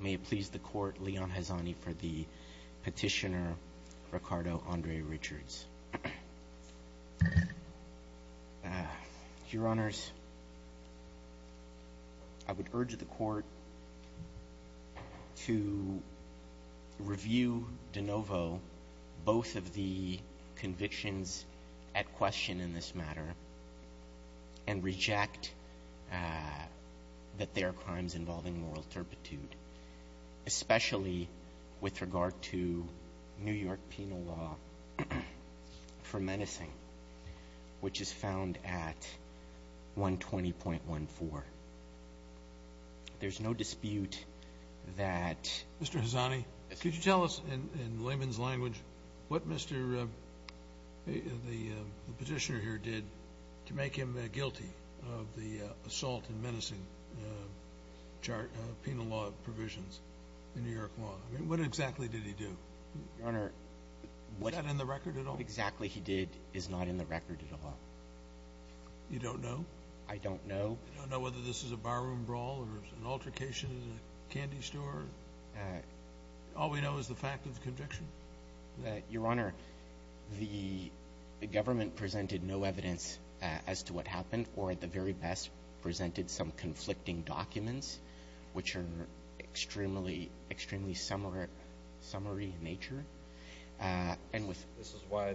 May it please the court, Leon Hezani for the petitioner, Ricardo Andre Richards. Your Honours, I would urge the court to review de novo both of the convictions at question in this matter and reject that there are crimes involving moral turpitude, especially with regard to New York penal law for menacing, which is found at 120.14. There's no dispute that... Mr. Hezani, could you tell us in layman's language what the petitioner here did to make him guilty of the assault and menacing penal law provisions in New York law? I mean, what exactly did he do? Your Honour... Is that in the record at all? What exactly he did is not in the record at all. You don't know? I don't know. You don't know whether this is a barroom brawl or an altercation at a candy store? All we know is the fact of the conviction. Your Honour, the government presented no evidence as to what happened or at the very best presented some conflicting documents, which are extremely summary in nature. This is why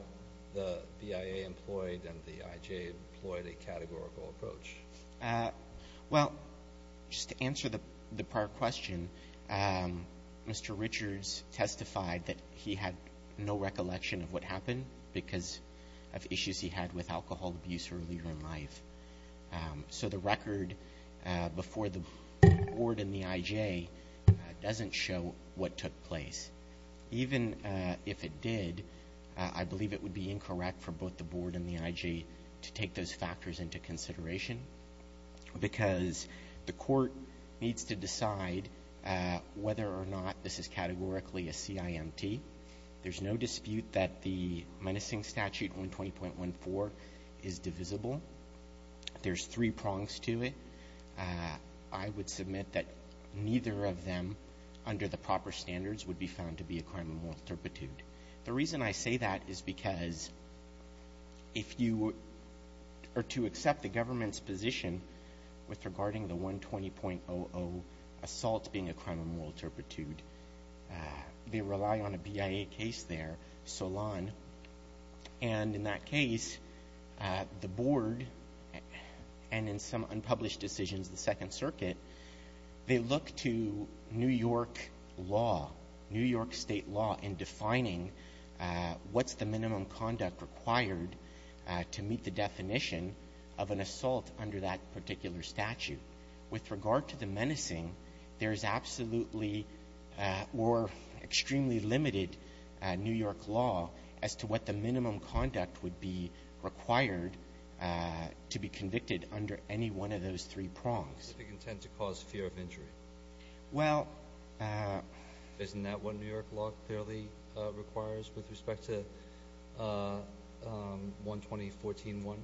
the BIA employed and the IJ employed a categorical approach. Well, just to answer the prior question, Mr. Richards testified that he had no recollection of what happened because of issues he had with alcohol abuse earlier in life. So the record before the board and the IJ doesn't show what took place. Even if it did, I believe it would be incorrect for both the board and the IJ to take those factors into consideration because the court needs to decide whether or not this is categorically a CIMT. There's no dispute that the menacing statute 120.14 is divisible. There's three prongs to it. I would submit that neither of them, under the proper standards, would be found to be a crime of moral turpitude. The reason I say that is because to accept the government's position regarding the 120.00 assault being a crime of moral turpitude, they rely on a BIA case there, Solon. And in that case, the board, and in some unpublished decisions, the Second Circuit, they look to New York law, New York state law, in defining what's the minimum conduct required to meet the definition of an assault under that particular statute. With regard to the menacing, there is absolutely or extremely limited New York law as to what the minimum conduct would be required to be convicted under any one of those three prongs. Specific intent to cause fear of injury. Well... Isn't that what New York law clearly requires with respect to 120.14.1?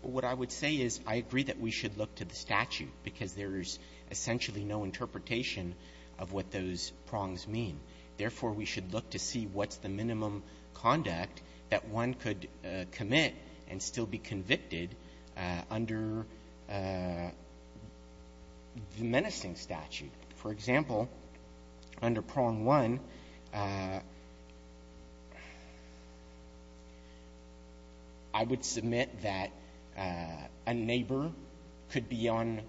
What I would say is I agree that we should look to the statute because there is essentially no interpretation of what those prongs mean. Therefore, we should look to see what's the minimum conduct that one could commit and still be convicted under the menacing statute. For example, under prong one, I would submit that a neighbor could be on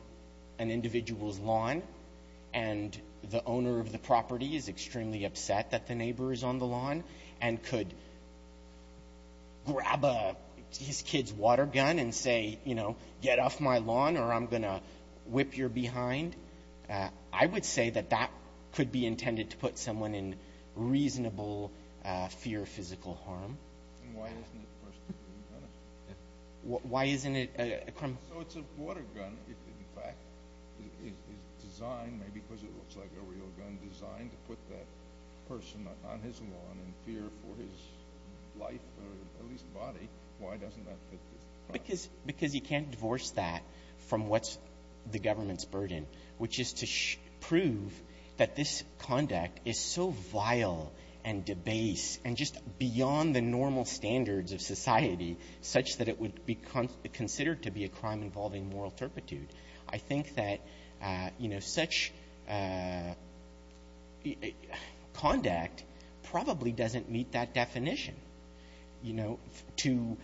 an individual's lawn and the owner of the property is extremely upset that the neighbor is on the lawn and could grab his kid's water gun and say, you know, get off my lawn or I'm going to whip your behind. I would say that that could be intended to put someone in reasonable fear of physical harm. And why isn't it a person's water gun? Why isn't it... So it's a water gun. In fact, it's designed maybe because it looks like a real gun, designed to put that person on his lawn in fear for his life or at least body. Why doesn't that fit the prong? Because you can't divorce that from what's the government's burden, which is to prove that this conduct is so vile and debase and just beyond the normal standards of society such that it would be considered to be a crime involving moral turpitude. I think that, you know, such conduct probably doesn't meet that definition, you know, to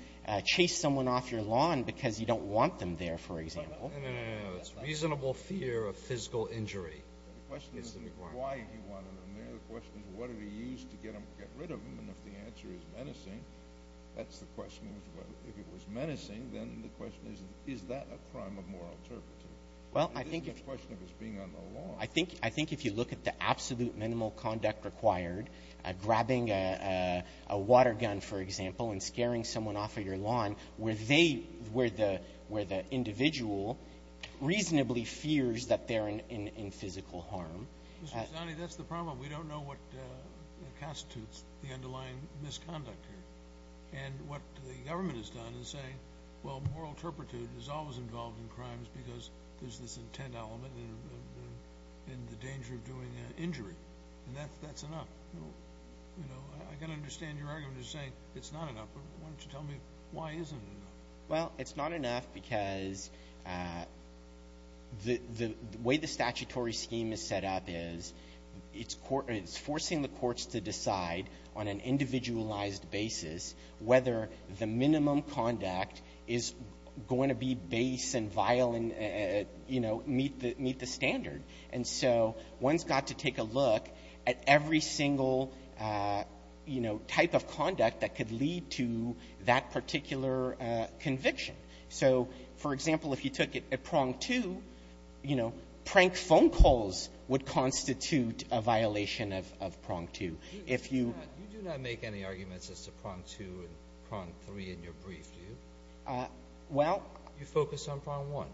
chase someone off your lawn because you don't want them there, for example. No, no, no. It's reasonable fear of physical injury. The question isn't why he wanted them there. The question is what did he use to get rid of them. And if the answer is menacing, that's the question. If it was menacing, then the question is, is that a crime of moral turpitude? It isn't a question of his being on the lawn. I think if you look at the absolute minimal conduct required, grabbing a water gun, for example, and scaring someone off of your lawn where the individual reasonably fears that they're in physical harm. Mr. Zani, that's the problem. We don't know what constitutes the underlying misconduct here. And what the government has done is say, well, moral turpitude is always involved in crimes because there's this intent element in the danger of doing an injury. And that's enough. You know, I can understand your argument of saying it's not enough, but why don't you tell me why isn't it enough? Well, it's not enough because the way the statutory scheme is set up is it's forcing the courts to decide on an individualized basis whether the minimum conduct is going to be base and violent, you know, meet the standard. And so one's got to take a look at every single, you know, type of conduct that could lead to that particular conviction. So, for example, if you took it at prong two, you know, prank phone calls would constitute a violation of prong two. If you — You do not make any arguments as to prong two and prong three in your brief, do you? Well — You focus on prong one.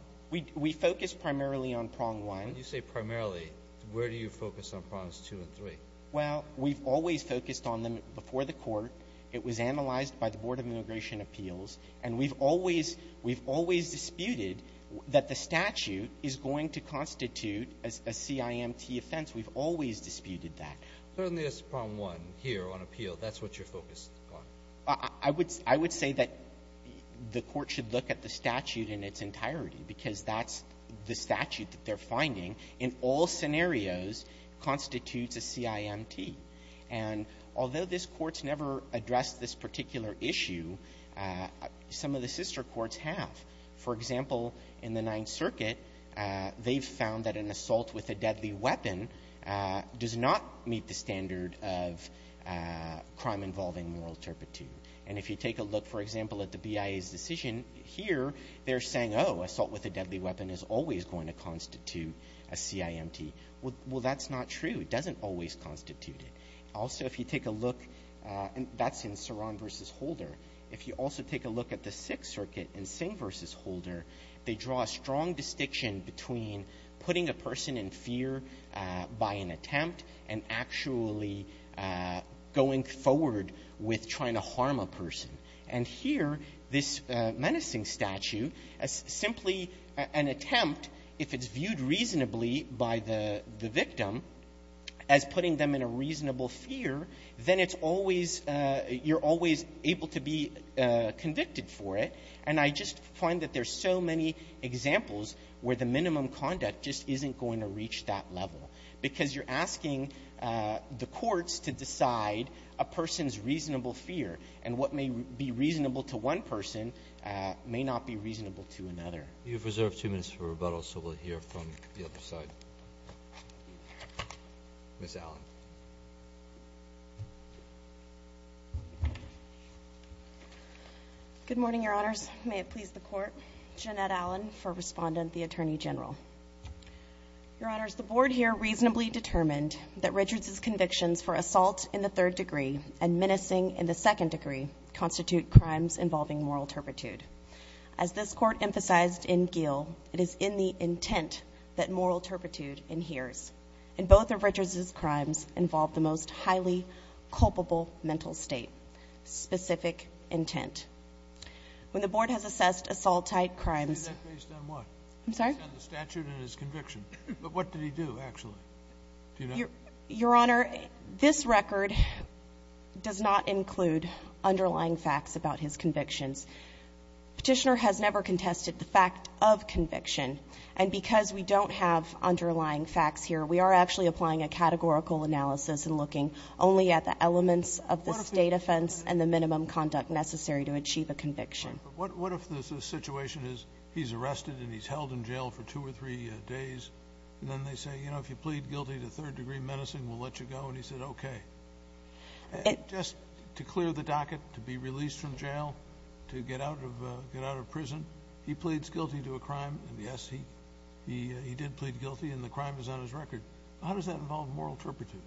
We focus primarily on prong one. When you say primarily, where do you focus on prongs two and three? Well, we've always focused on them before the court. It was analyzed by the Board of Immigration Appeals. And we've always — we've always disputed that the statute is going to constitute a CIMT offense. We've always disputed that. Certainly it's prong one here on appeal. That's what you're focused on. I would say that the court should look at the statute in its entirety because that's the statute that they're finding. In all scenarios, constitutes a CIMT. And although this court's never addressed this particular issue, some of the sister courts have. For example, in the Ninth Circuit, they've found that an assault with a deadly weapon does not meet the standard of crime involving moral turpitude. And if you take a look, for example, at the BIA's decision here, they're saying, oh, assault with a deadly weapon is always going to constitute a CIMT. Well, that's not true. It doesn't always constitute it. Also, if you take a look — and that's in Saron v. Holder. If you also take a look at the Sixth Circuit in Singh v. Holder, they draw a strong distinction between putting a person in fear by an attempt and actually going forward with trying to harm a person. And here, this menacing statute is simply an attempt. If it's viewed reasonably by the victim as putting them in a reasonable fear, then it's always — you're always able to be convicted for it. And I just find that there's so many examples where the minimum conduct just isn't going to reach that level because you're asking the courts to decide a person's reasonable fear. And what may be reasonable to one person may not be reasonable to another. You have reserved two minutes for rebuttal, so we'll hear from the other side. Ms. Allen. Good morning, Your Honors. May it please the Court. Jeanette Allen for Respondent, the Attorney General. Your Honors, the Board here reasonably determined that Richards' convictions for assault in the third degree and menacing in the second degree constitute crimes involving moral turpitude. As this Court emphasized in Gill, it is in the intent that moral turpitude inheres. And both of Richards' crimes involve the most highly culpable mental state, specific intent. When the Board has assessed assault-type crimes — Say that based on what? I'm sorry? Based on the statute and his conviction. But what did he do, actually? Do you know? Your Honor, this record does not include underlying facts about his convictions. Petitioner has never contested the fact of conviction. And because we don't have underlying facts here, we are actually applying a categorical analysis and looking only at the elements of the state offense and the minimum conduct necessary to achieve a conviction. Right. But what if the situation is he's arrested and he's held in jail for two or three days, and then they say, you know, if you plead guilty to third-degree menacing, we'll let you go? And he said, okay. Just to clear the docket, to be released from jail, to get out of prison, he pleads guilty to a crime, and, yes, he did plead guilty, and the crime is on his record. How does that involve moral turpitude?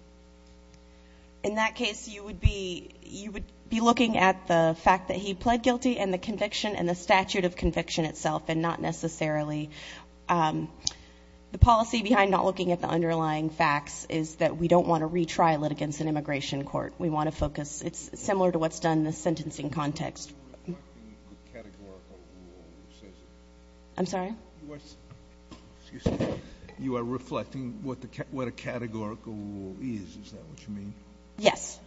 In that case, you would be looking at the fact that he pled guilty and the conviction and the statute of conviction itself, and not necessarily the policy behind not is that we don't want to retrial it against an immigration court. We want to focus. It's similar to what's done in the sentencing context. You are reflecting what a categorical rule says. I'm sorry? You are reflecting what a categorical rule is. Is that what you mean? Yes.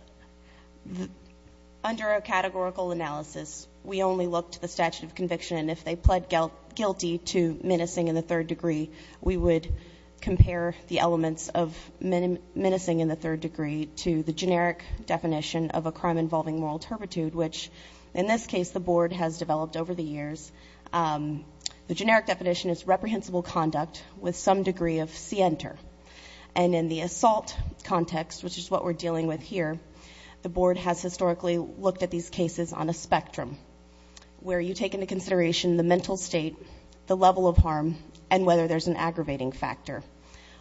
Under a categorical analysis, we only look to the statute of conviction. And if they pled guilty to menacing in the third degree, we would compare the elements of menacing in the third degree to the generic definition of a crime involving moral turpitude, which in this case the Board has developed over the years. The generic definition is reprehensible conduct with some degree of scienter. And in the assault context, which is what we're dealing with here, the Board has historically looked at these cases on a spectrum, where you take into consideration the mental state, the level of harm, and whether there's an aggravating factor.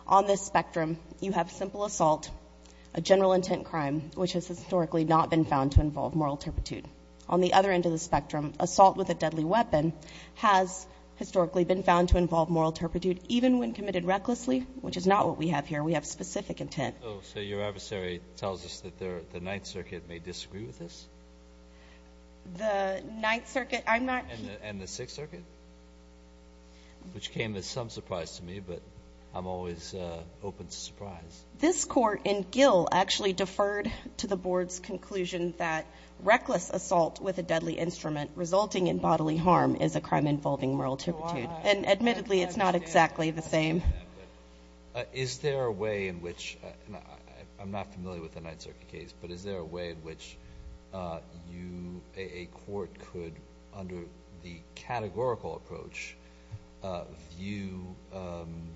On this spectrum, you have simple assault, a general intent crime, which has historically not been found to involve moral turpitude. On the other end of the spectrum, assault with a deadly weapon has historically been found to involve moral turpitude, even when committed recklessly, which is not what we have here. We have specific intent. So your adversary tells us that the Ninth Circuit may disagree with this? The Ninth Circuit? I'm not— And the Sixth Circuit? Which came as some surprise to me, but I'm always open to surprise. This Court in Gill actually deferred to the Board's conclusion that reckless assault with a deadly instrument resulting in bodily harm is a crime involving moral turpitude. And admittedly, it's not exactly the same. Is there a way in which—I'm not familiar with the Ninth Circuit case, but is there a way in which a court could, under the categorical approach, view an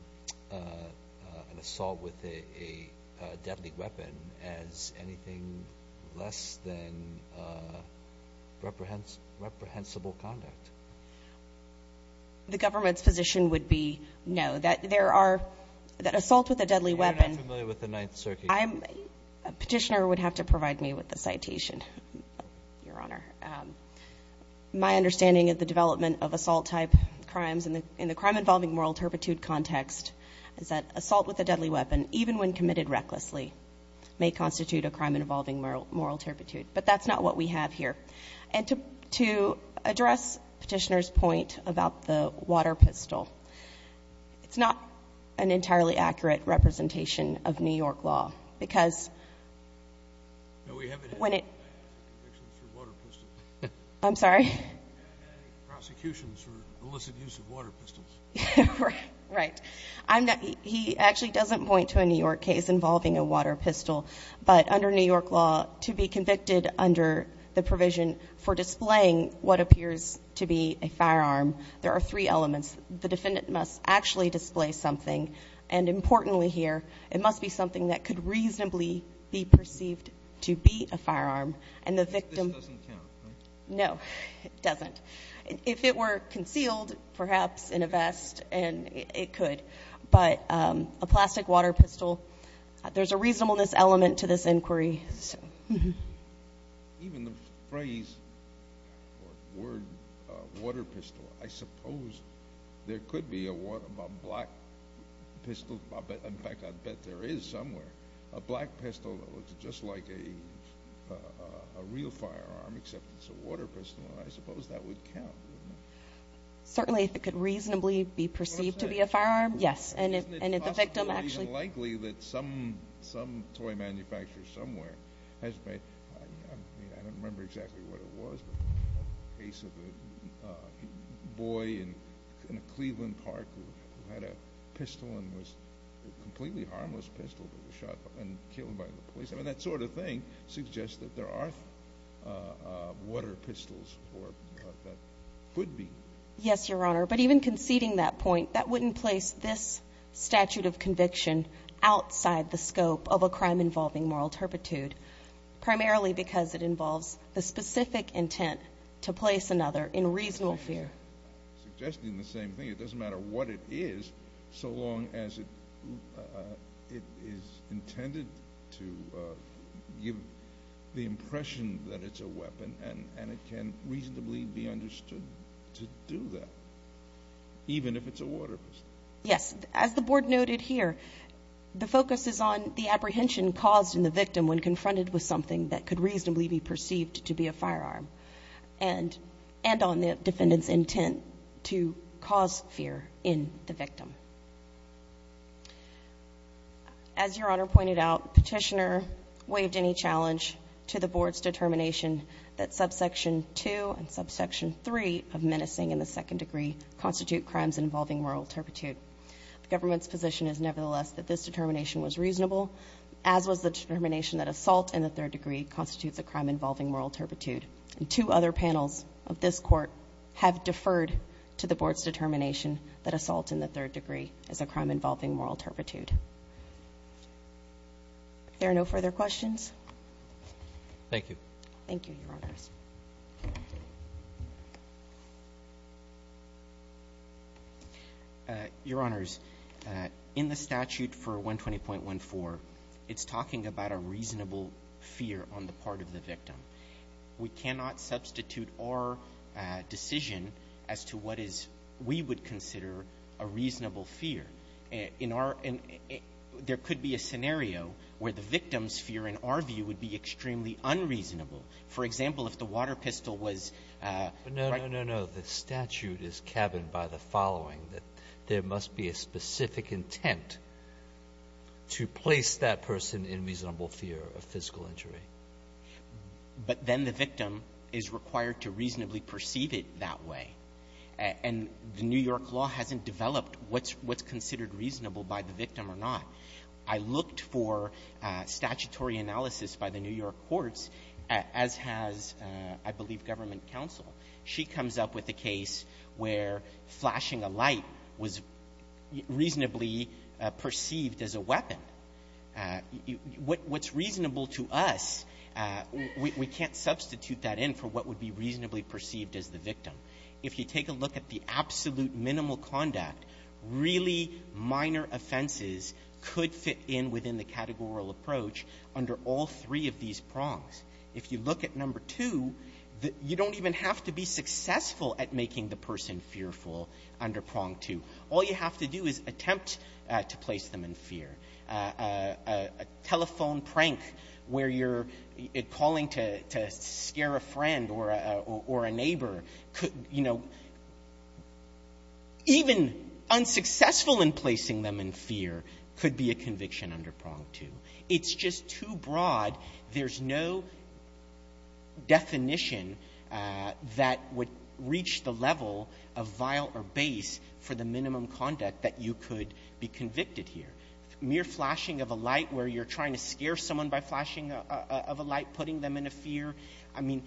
assault with a deadly weapon as anything less than reprehensible conduct? The government's position would be no, that there are—that assault with a deadly weapon— You're not familiar with the Ninth Circuit case? Petitioner would have to provide me with the citation, Your Honor. My understanding of the development of assault-type crimes in the crime-involving moral turpitude context is that assault with a deadly weapon, even when committed recklessly, may constitute a crime involving moral turpitude. But that's not what we have here. And to address Petitioner's point about the water pistol, it's not an entirely accurate representation of New York law. Because when it— No, we haven't had any convictions for water pistols. I'm sorry? We haven't had any prosecutions for illicit use of water pistols. Right. He actually doesn't point to a New York case involving a water pistol. But under New York law, to be convicted under the provision for displaying what appears to be a firearm, there are three elements. The defendant must actually display something, and importantly here, it must be something that could reasonably be perceived to be a firearm. And the victim— This doesn't count, right? No, it doesn't. If it were concealed, perhaps in a vest, it could. But a plastic water pistol, there's a reasonableness element to this inquiry. Even the phrase or word, water pistol, I suppose there could be a water—a black pistol. In fact, I'd bet there is somewhere a black pistol that looks just like a real firearm, except it's a water pistol. I suppose that would count, wouldn't it? Certainly, if it could reasonably be perceived to be a firearm, yes. And if the victim actually— I don't remember exactly what it was, but a case of a boy in a Cleveland park who had a pistol and was a completely harmless pistol that was shot and killed by the police. I mean, that sort of thing suggests that there are water pistols that could be. Yes, Your Honor. But even conceding that point, that wouldn't place this statute of conviction outside the scope of a crime involving moral turpitude, primarily because it involves the specific intent to place another in reasonable fear. Suggesting the same thing. It doesn't matter what it is so long as it is intended to give the impression that it's a weapon and it can reasonably be understood to do that, even if it's a water pistol. Yes. As the Board noted here, the focus is on the apprehension caused in the victim when confronted with something that could reasonably be perceived to be a firearm and on the defendant's intent to cause fear in the victim. As Your Honor pointed out, Petitioner waived any challenge to the Board's determination that subsection 2 and subsection 3 of menacing in the second degree constitute crimes involving moral turpitude. The government's position is nevertheless that this determination was reasonable, as was the determination that assault in the third degree constitutes a crime involving moral turpitude. And two other panels of this Court have deferred to the Board's determination that assault in the third degree is a crime involving moral turpitude. Are there no further questions? Thank you. Thank you, Your Honors. Your Honors, in the statute for 120.14, it's talking about a reasonable fear on the part of the victim. We cannot substitute our decision as to what we would consider a reasonable fear. There could be a scenario where the victim's fear, in our view, would be extremely unreasonable. For example, if the water pistol was ---- No, no, no, no. The statute is cabined by the following, that there must be a specific intent to place that person in reasonable fear of physical injury. But then the victim is required to reasonably perceive it that way. And the New York law hasn't developed what's considered reasonable by the victim or not. I looked for statutory analysis by the New York courts, as has, I believe, government counsel. She comes up with a case where flashing a light was reasonably perceived as a weapon. What's reasonable to us, we can't substitute that in for what would be reasonably perceived as the victim. If you take a look at the absolute minimal conduct, really minor offenses could fit in within the categorical approach under all three of these prongs. If you look at number two, you don't even have to be successful at making the person fearful under prong two. All you have to do is attempt to place them in fear. A telephone prank where you're calling to scare a friend or a neighbor, you know, even unsuccessful in placing them in fear could be a conviction under prong two. It's just too broad. There's no definition that would reach the level of vial or base for the minimum conduct that you could be convicted here. Mere flashing of a light where you're trying to scare someone by flashing of a light, putting them in a fear, I mean,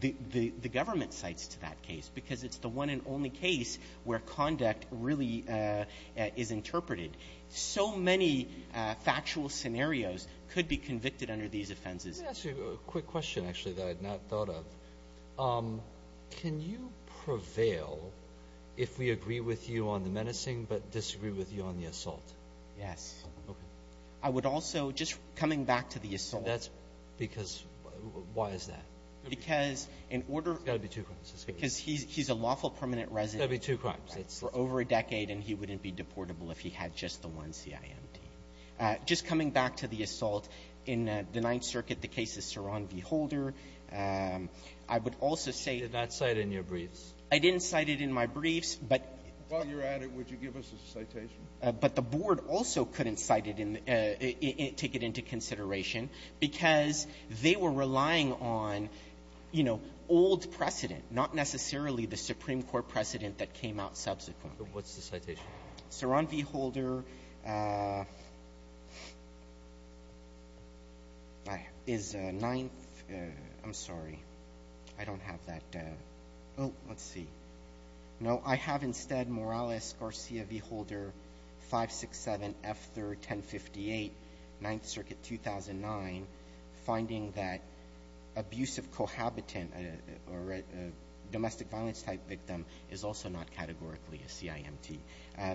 the government cites to that case because it's the one and only case where conduct really is interpreted. So many factual scenarios could be convicted under these offenses. Let me ask you a quick question, actually, that I had not thought of. Can you prevail if we agree with you on the menacing but disagree with you on the assault? Yes. Okay. I would also, just coming back to the assault. Because why is that? Because in order. It's got to be two crimes. Because he's a lawful permanent resident. It's got to be two crimes. For over a decade and he wouldn't be deportable if he had just the one CIMD. Just coming back to the assault in the Ninth Circuit, the case of Ceron v. Holder, I would also say. Did that cite in your briefs? I didn't cite it in my briefs. While you're at it, would you give us a citation? But the board also couldn't cite it and take it into consideration because they were relying on, you know, old precedent, not necessarily the Supreme Court precedent that came out subsequently. What's the citation? Ceron v. Holder is a ninth. I'm sorry. I don't have that. Oh, let's see. No, I have instead Morales Garcia v. Holder, 567F3R1058, Ninth Circuit, 2009, finding that abusive cohabitant or a domestic violence type victim is also not categorically a CIMD.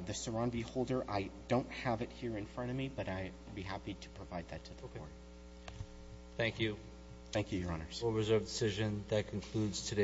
The Ceron v. Holder, I don't have it here in front of me, but I'd be happy to provide that to the board. Okay. Thank you. Thank you, Your Honors. Rule reserve decision. That concludes today's hearing.